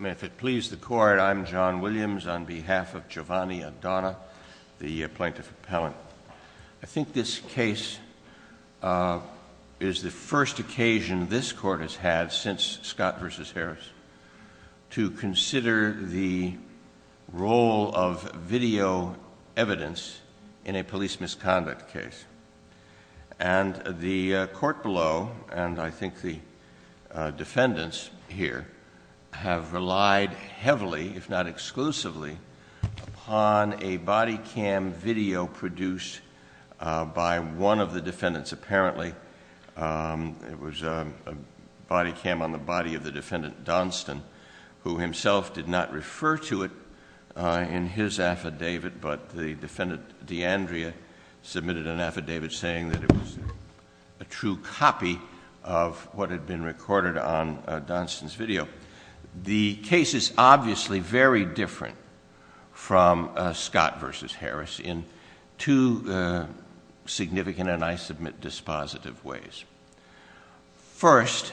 If it pleases the court, I'm John Williams on behalf of Giovanni Adona, the plaintiff appellant. I think this case is the first occasion this court has had since Scott v. Harris to consider the role of video evidence in a police misconduct case. The court below and I think the defendants here have relied heavily, if not exclusively, upon a body cam video produced by one of the defendants apparently. It was a body cam on the body of the defendant, Donston, who himself did not refer to it in his affidavit, but the defendant D'Andrea submitted an affidavit saying that it was a true copy of what had been recorded on Donston's video. The case is obviously very different from Scott v. Harris in two significant, and I submit dispositive, ways. First,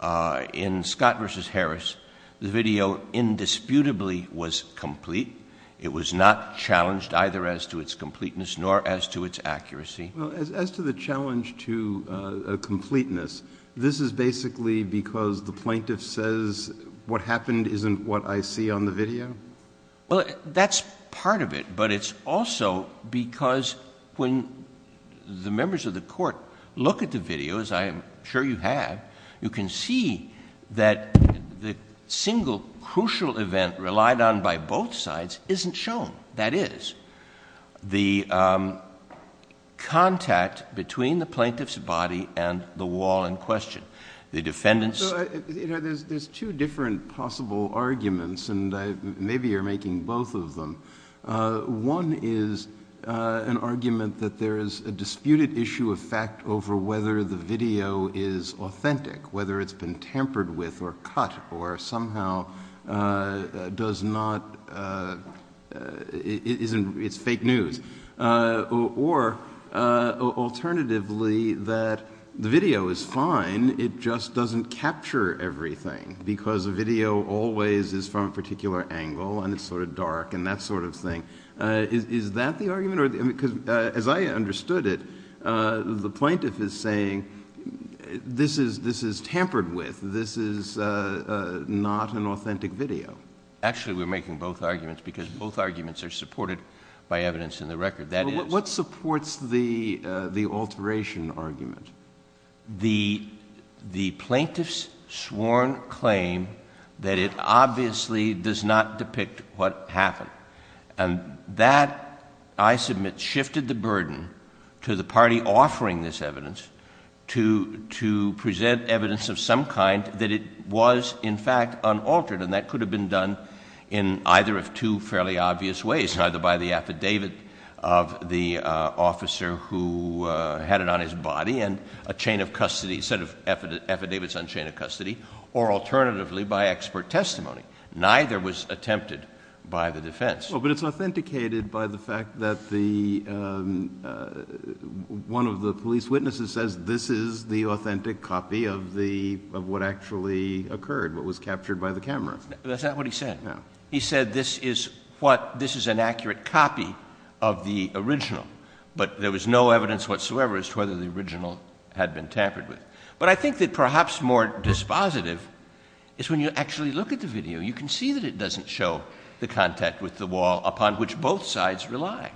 in Scott v. Harris, the video indisputably was complete. It was not challenged either as to its completeness nor as to its accuracy. As to the challenge to completeness, this is basically because the plaintiff says what happened isn't what I see on the video? Well, that's part of it, but it's also because when the members of the court look at the video, as I'm sure you have, you can see that the single crucial event relied on by both sides isn't shown. That is, the contact between the plaintiff's body and the wall in question. The defendants So, there's two different possible arguments, and maybe you're making both of them. One is an argument that there is a disputed issue of fact over whether the video is authentic, whether it's been tampered with or cut or somehow does not, it's fake news. Or, alternatively, that the video is fine, it just doesn't capture everything because the video always is from a particular angle and it's sort of dark and that sort of thing. Is that the argument? As I understood it, the plaintiff is saying this is tampered with, this is not an authentic video. Actually, we're making both arguments because both arguments are supported by evidence in the record. But what supports the alteration argument? The plaintiff's sworn claim that it obviously does not depict what happened. And that, I submit, shifted the burden to the party offering this evidence to present evidence of some kind that it was, in fact, unaltered. And that could have been done in either of two fairly obvious ways, either by the affidavit of the officer who had it on his body and a chain of custody, a set of affidavits on chain of custody, or, alternatively, by expert testimony. Neither was attempted by the defense. Well, but it's authenticated by the fact that one of the police witnesses says this is the authentic copy of what actually occurred, what was captured by the camera. That's not what he said. He said this is what, this is an accurate copy of the original. But there was no evidence whatsoever as to whether the original had been tampered with. But I think that perhaps more dispositive is when you actually look at the video, you can see that it doesn't show the contact with the wall upon which both sides rely.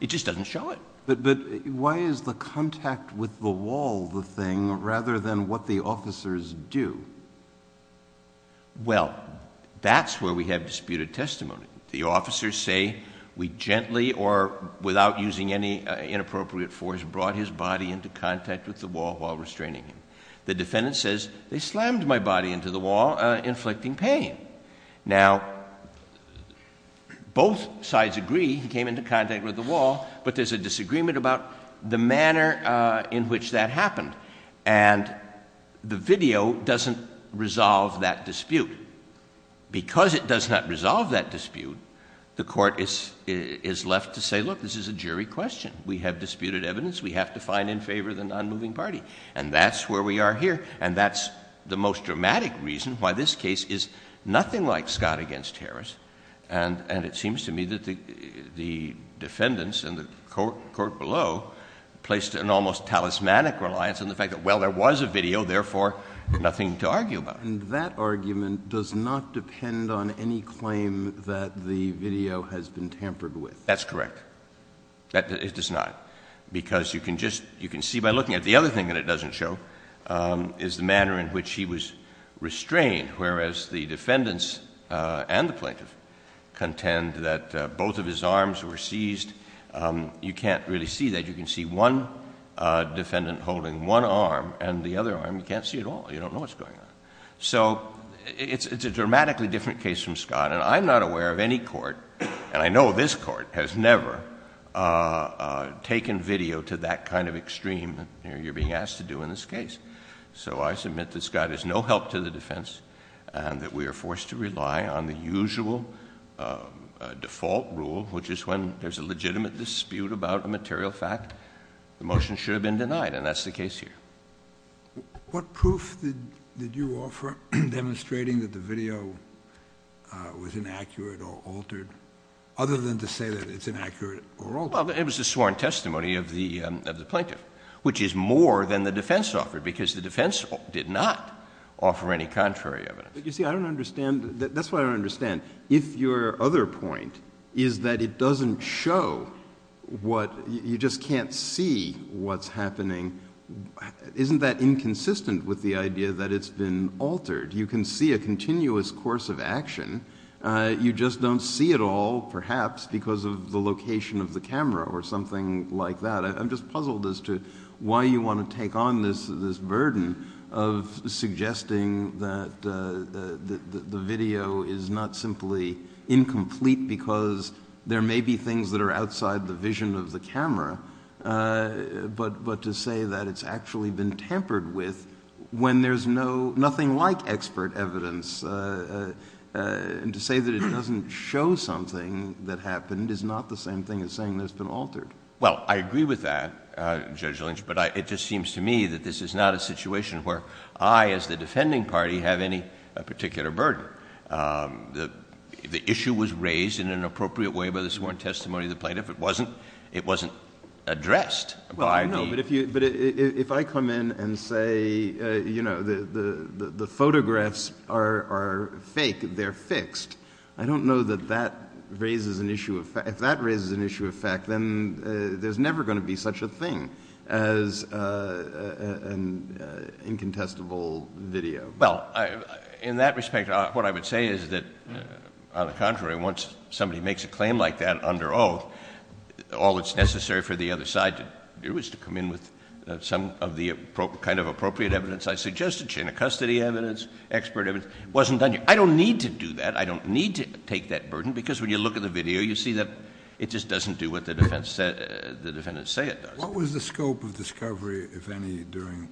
It just doesn't show it. But why is the contact with the wall the thing, rather than what the officers do? Well, that's where we have disputed testimony. The officers say, we gently or without using any inappropriate force brought his body into contact with the wall while restraining him. The defendant says, they slammed my body into the wall, inflicting pain. Now, both sides agree he came into contact with the wall, but there's a disagreement about the manner in which that happened. And the video doesn't resolve that dispute. Because it does not resolve that dispute, the court is left to say, look, this is a jury question. We have disputed evidence. We have to find in favor of the nonmoving party. And that's where we are here. And that's the most dramatic reason why this case is nothing like Scott v. Harris. And it seems to me that the defendants and the court below placed an almost talismanic reliance on the fact that, well, there was a video, therefore, nothing to argue about. And that argument does not depend on any claim that the video has been tampered with? That's correct. It does not. Because you can just, you can see by looking at it. The other defendant and the plaintiff contend that both of his arms were seized. You can't really see that. You can see one defendant holding one arm and the other arm. You can't see it all. You don't know what's going on. So it's a dramatically different case from Scott. And I'm not aware of any court, and I know this court, has never taken video to that kind of extreme you're being asked to do in this case. So I submit that Scott is no help to the defense and that we are going to have a very unusual default rule, which is when there's a legitimate dispute about a material fact, the motion should have been denied. And that's the case here. What proof did you offer demonstrating that the video was inaccurate or altered, other than to say that it's inaccurate or altered? Well, it was a sworn testimony of the plaintiff, which is more than the defense offered, because the defense did not offer any contrary evidence. But you see, I don't understand. That's what I don't understand. If your other point is that it doesn't show what, you just can't see what's happening, isn't that inconsistent with the idea that it's been altered? You can see a continuous course of action. You just don't see it all, perhaps, because of the location of the camera or something like that. I'm just puzzled as to why you want to take on this burden of suggesting that the video is not simply incomplete because there may be things that are outside the vision of the camera, but to say that it's actually been tampered with when there's nothing like expert evidence, and to say that it doesn't show something that happened is not the same thing as saying that it's been altered. Well, I agree with that, Judge Lynch, but it just seems to me that this is not a situation where I, as the defending party, have any particular burden. The issue was raised in an appropriate way by the sworn testimony of the plaintiff. It wasn't addressed by the Well, I know, but if I come in and say the photographs are fake, they're fixed, I don't know that that raises an issue of fact. If that raises an issue of fact, then there's an incontestable video. Well, in that respect, what I would say is that, on the contrary, once somebody makes a claim like that under oath, all that's necessary for the other side to do is to come in with some of the kind of appropriate evidence I suggested, chain of custody evidence, expert evidence. It wasn't done yet. I don't need to do that. I don't need to take that burden because when you look at the video, you see that it just doesn't do what the defendants say it does. What was the scope of discovery, if any, during...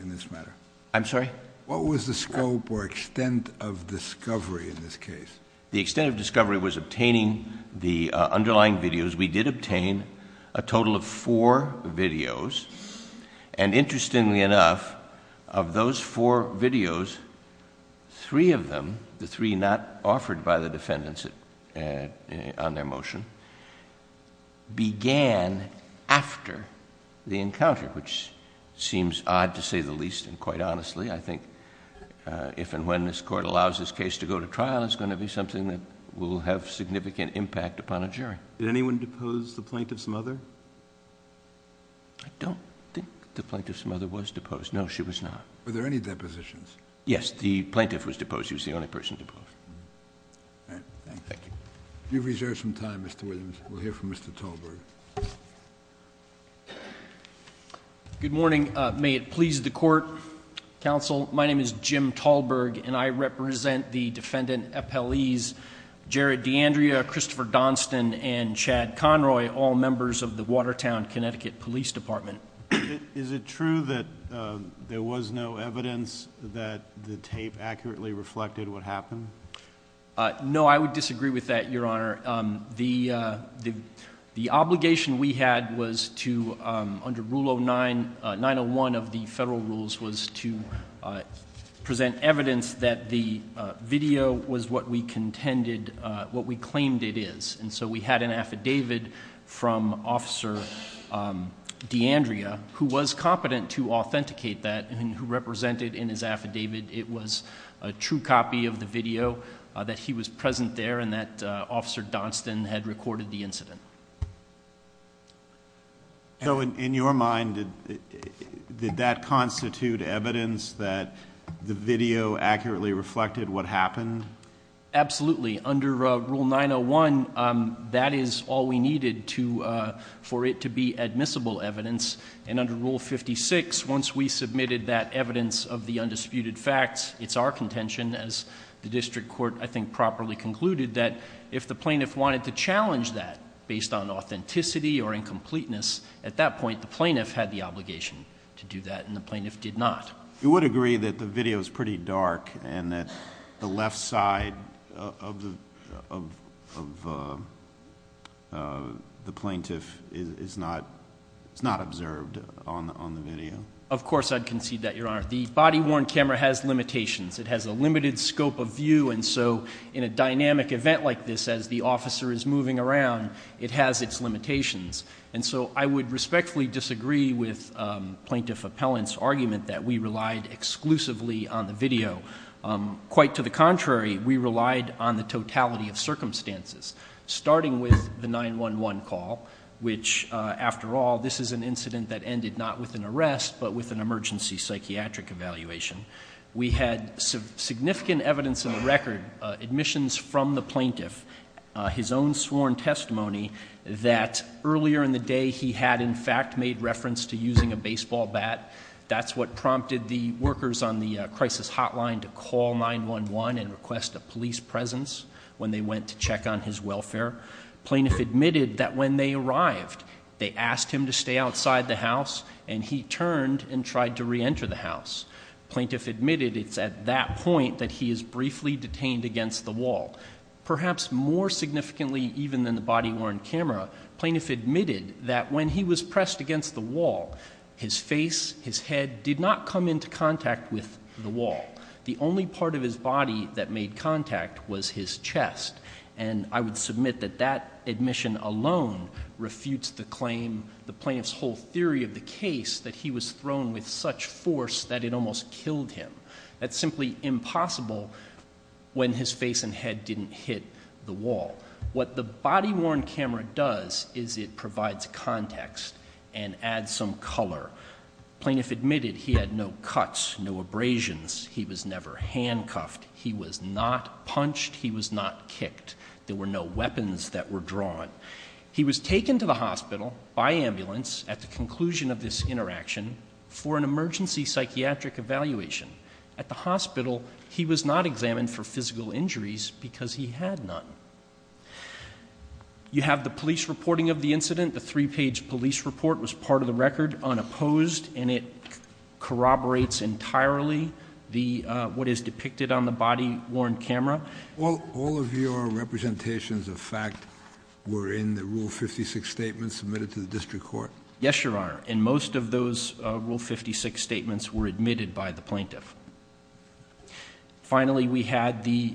in this matter? I'm sorry? What was the scope or extent of discovery in this case? The extent of discovery was obtaining the underlying videos. We did obtain a total of four videos. Interestingly enough, of those four videos, three of them, the three not involved in this case, were the ones that the plaintiff's mother reported to the jury. I don't think the plaintiff's mother was deposed. No, she was not. Were there any depositions? Yes. The plaintiff was deposed. She was the only person deposed. All right. Thank you. Thank you. You've reserved some time, Mr. Williams. We'll hear from Mr. Tolbert. Good morning. May it please the Court, Counsel. My name is Jim Tolbert, and I represent the defendant appellees Jared D'Andrea, Christopher Donston, and Chad Conroy, all members of the Watertown, Connecticut Police Department. Is it true that there was no evidence that the tape accurately reflected what happened? No, I would disagree with that, Your Honor. The obligation we had was to, under Rule 901 of the federal rules, was to present evidence that the video was what we contended, what we claimed it is. And so we had an affidavit from Officer D'Andrea, who was competent to authenticate that, and who represented in his affidavit it was a true copy of the video, that he was present there, and that Officer Donston had recorded the incident. So in your mind, did that constitute evidence that the video accurately reflected what happened? Absolutely. Under Rule 901, that is all we needed for it to be admissible evidence. And under Rule 56, once we submitted that evidence of the undisputed facts, it's our contention, as the district court I think properly concluded, that if the plaintiff wanted to challenge that based on authenticity or incompleteness, at that point the plaintiff had the obligation to do that, and the plaintiff did not. You would agree that the video is pretty dark, and that the left side of the plaintiff is not observed on the video? Of course I'd concede that, Your Honor. The body-worn camera has limitations. It has a limited scope of view, and so in a dynamic event like this, as the officer is moving around, it has its limitations. And so I would respectfully disagree with Plaintiff Appellant's claim that we relied exclusively on the video. Quite to the contrary, we relied on the totality of circumstances, starting with the 911 call, which, after all, this is an incident that ended not with an arrest, but with an emergency psychiatric evaluation. We had significant evidence in the record, admissions from the plaintiff, his own sworn testimony, that earlier in the day he had in fact made reference to using a baseball bat. That's what prompted the workers on the crisis hotline to call 911 and request a police presence when they went to check on his welfare. Plaintiff admitted that when they arrived, they asked him to stay outside the house, and he turned and tried to reenter the house. Plaintiff admitted it's at that point that he is briefly detained against the wall. Perhaps more significantly even than the body-worn camera, plaintiff admitted that when he was pressed against the wall, his face, his head did not come into contact with the wall. The only part of his body that made contact was his chest. And I would submit that that admission alone refutes the claim, the plaintiff's whole theory of the case, that he was thrown with such force that it almost killed him. That's simply impossible when his face and head didn't hit the wall. What the body-worn camera does is it provides context and adds some color. Plaintiff admitted he had no cuts, no abrasions. He was never handcuffed. He was not punched. He was not kicked. There were no weapons that were drawn. He was taken to the hospital by ambulance at the conclusion of this interaction for an emergency psychiatric evaluation. At the hospital, he was not examined for physical injuries. The three-page police report was part of the record, unopposed, and it corroborates entirely the, what is depicted on the body-worn camera. All of your representations of fact were in the Rule 56 statement submitted to the district court? Yes, Your Honor. And most of those Rule 56 statements were admitted by the plaintiff. Finally, we had the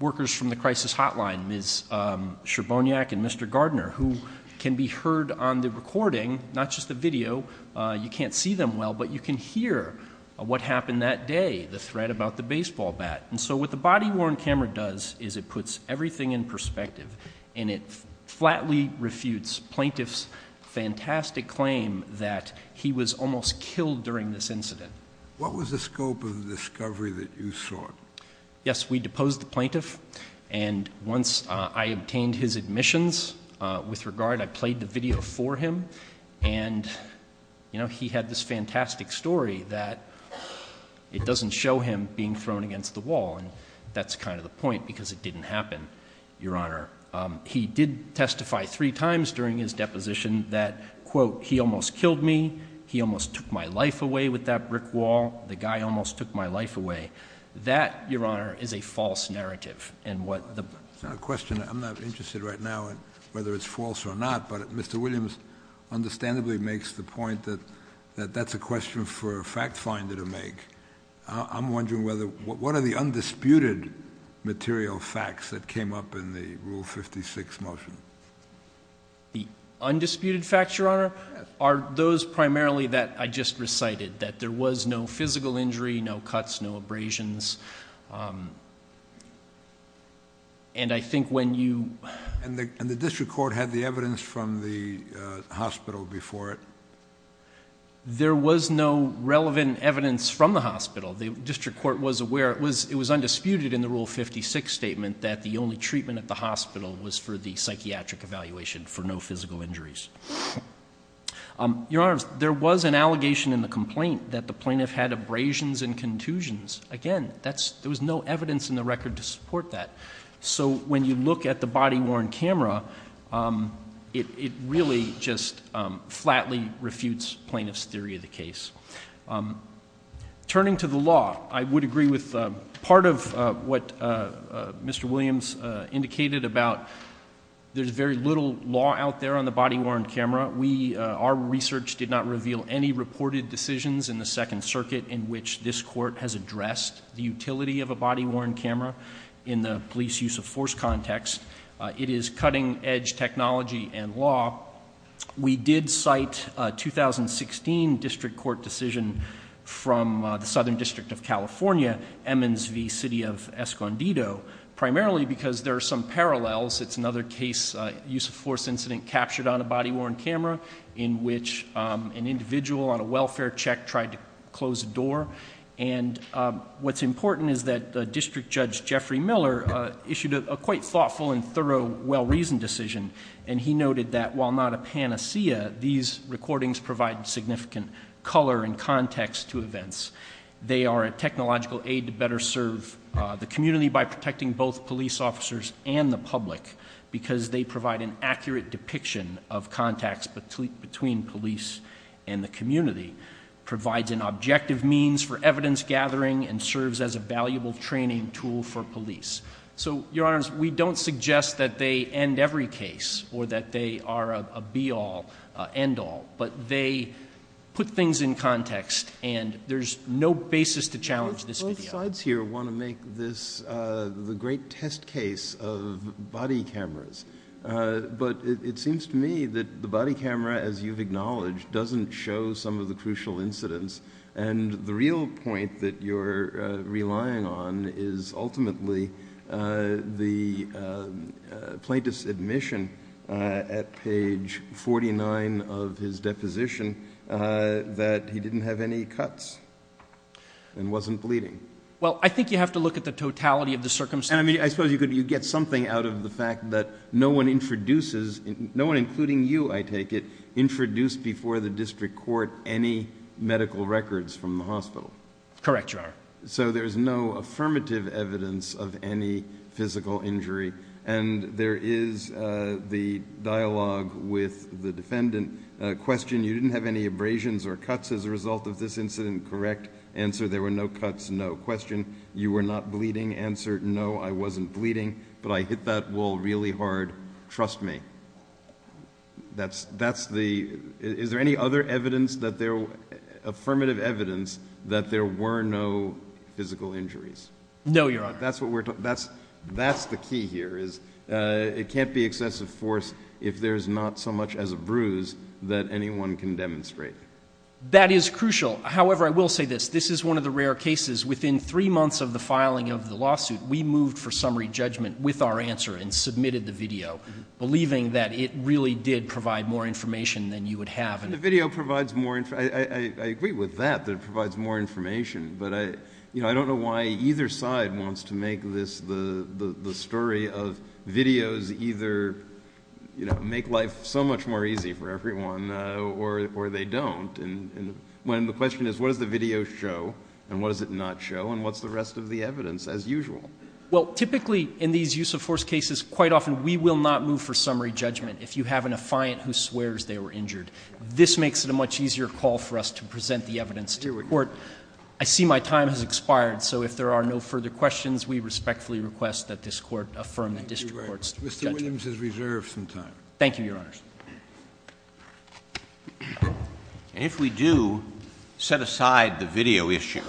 workers from the crisis hotline, Ms. Scherboniak and Mr. Gardner, who can be heard on the recording, not just the video. You can't see them well, but you can hear what happened that day, the threat about the baseball bat. And so what the body-worn camera does is it puts everything in perspective, and it flatly refutes plaintiff's fantastic claim that he was almost killed during this incident. What was the scope of the discovery that you sought? Yes, we deposed the plaintiff. And once I obtained his admissions, with regard, I played the video for him. And, you know, he had this fantastic story that it doesn't show him being thrown against the wall. And that's kind of the point, because it didn't happen, Your Honor. He did testify three times during his deposition that, quote, he almost killed me, he almost took my life away with that brick wall, the guy almost took my life away. That, Your Honor, is a false narrative. I have a question. I'm not interested right now whether it's false or not, but Mr. Williams understandably makes the point that that's a question for a fact finder to make. I'm wondering whether, what are the undisputed material facts that came up in the Rule 56 motion? The undisputed facts, Your Honor, are those primarily that I just recited, that there was no physical injury, no cuts, no abrasions. And I think when you... And the district court had the evidence from the hospital before it? There was no relevant evidence from the hospital. The district court was aware, it was undisputed in the Rule 56 statement that the only treatment at the hospital was for the psychiatric evaluation for no physical injuries. Your Honor, there was an allegation in the complaint that the plaintiff had abrasions and contusions. Again, there was no evidence in the record to support that. So when you look at the body-worn camera, it really just flatly refutes plaintiff's theory of the case. Turning to the law, I would agree with part of what Mr. Williams indicated about there's very little law out there on the body-worn camera. We, our research did not reveal any reported decisions in the Second Circuit in which this court has addressed the utility of a body-worn camera in the police use of force context. It is cutting-edge technology and law. We did cite a 2016 district court decision from the Southern District of California, Emmons v. City of Escondido, primarily because there are some parallels. It's another case, use of force incident captured on a body-worn camera in which an individual on a welfare check tried to close a door. And what's important is that District Judge Jeffrey Miller issued a quite thoughtful and thorough well-reasoned decision, and he noted that while not a panacea, these recordings provide significant color and context to events. They are a technological aid to better serve the community by protecting both police officers and the public because they provide an accurate depiction of contacts between police and the community, provides an objective means for evidence gathering, and serves as a valuable training tool for investigators. Your Honor, we don't suggest that they end every case or that they are a be-all, end-all, but they put things in context, and there's no basis to challenge this video. Both sides here want to make this the great test case of body cameras. But it seems to me that the body camera, as you've acknowledged, doesn't show some of the crucial incidents. And the real point that you're relying on is ultimately the plaintiff's admission at page 49 of his deposition that he didn't have any cuts and wasn't bleeding. Well, I think you have to look at the totality of the circumstances. I mean, I suppose you could get something out of the fact that no one introduces no one, including you, I take it, introduced before the district court any medical records from the hospital. Correct, Your Honor. So there's no affirmative evidence of any physical injury. And there is the dialogue with the defendant. Question, you didn't have any abrasions or cuts as a result of this incident. Correct. Answer, there were no cuts. No. Question, you were not bleeding. Answer, no, I wasn't bleeding, but I hit that wall really hard. Trust me. Is there any other affirmative evidence that there were no physical injuries? No, Your Honor. That's the key here. It can't be excessive force if there's not so much as a bruise that anyone can demonstrate. That is crucial. However, I will say this. This is one of the rare cases. Within three months of the filing of the lawsuit, we moved for summary judgment with our answer and saying that it really did provide more information than you would have. The video provides more information. I agree with that, that it provides more information. But I don't know why either side wants to make this the story of videos either make life so much more easy for everyone or they don't. When the question is what does the video show and what does it not show and what's the rest of the evidence as usual? Well, typically in these use of force cases, quite often we will not move for summary judgment if you have an affiant who swears they were injured. This makes it a much easier call for us to present the evidence to a court. I see my time has expired, so if there are no further questions, we respectfully request that this Court affirm the district court's judgment. Mr. Williams has reserved some time. Thank you, Your Honor. And if we do set aside the video issue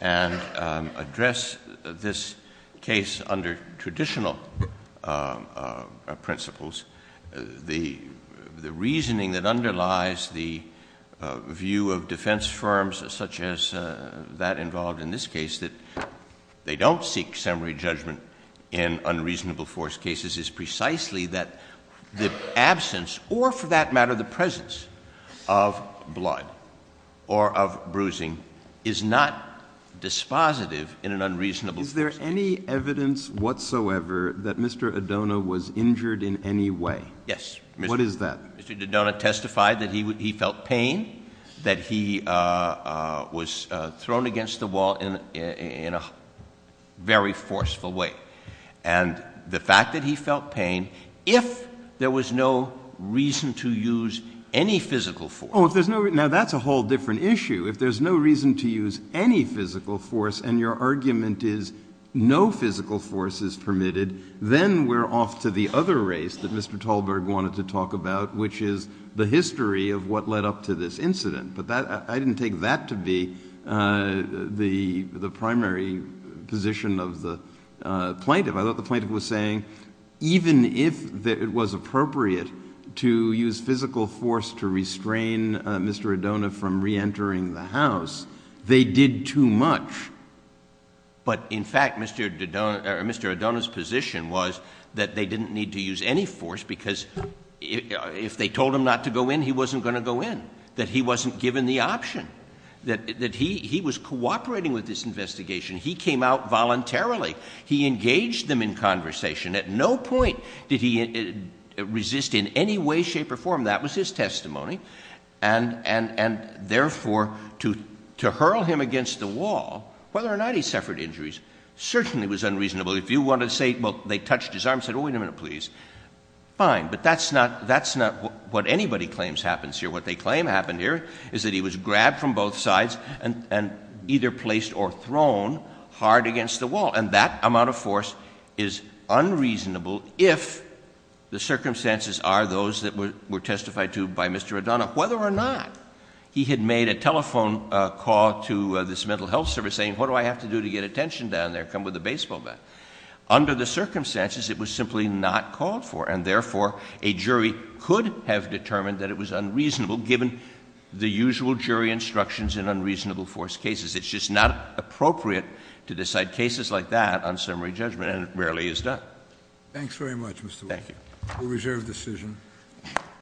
and address this case under traditional principles, the reasoning that underlies the view of defense firms such as that involved in this case, that they don't seek summary judgment in unreasonable force cases is precisely that the absence or for that matter the presence of blood or of bruising is not dispositive in an unreasonable force case. Is there any evidence whatsoever that Mr. Adona was injured in any way? Yes. What is that? Mr. Adona testified that he felt pain, that he was thrown against the wall in a very forceful way. And the fact that he felt pain, if there was no reason to use any physical force. Oh, if there's no reason. Now, that's a whole different issue. If there's no reason to use any physical force and your argument is no physical force is permitted, then we're off to the other race that Mr. Talberg wanted to talk about, which is the history of what led up to this incident. But I didn't take that to be the primary position of the plaintiff. I thought the plaintiff was saying even if it was appropriate to use physical force to restrain Mr. Adona from reentering the house, they did too much. But in fact, Mr. Adona's position was that they didn't need to use any force because if they told him not to go in, he wasn't going to go in, that he wasn't given the right to go in. He came out voluntarily. He engaged them in conversation. At no point did he resist in any way, shape or form. That was his testimony. And therefore, to hurl him against the wall, whether or not he suffered injuries, certainly was unreasonable. If you want to say, well, they touched his arm and said, oh, wait a minute, please. Fine. But that's not what anybody claims happens here. What they claim happened here is that he was grabbed from both sides and either placed or thrown hard against the wall. And that amount of force is unreasonable if the circumstances are those that were testified to by Mr. Adona. Whether or not he had made a telephone call to this mental health service saying what do I have to do to get attention down there? Come with a baseball bat. Under the circumstances, it was simply not called for. And therefore, a jury could have determined that it was unreasonable given the usual jury instructions in unreasonable force cases. It's just not appropriate to decide cases like that on summary judgment, and it rarely is done. Thanks very much, Mr. Wood. Thank you. We'll reserve decision.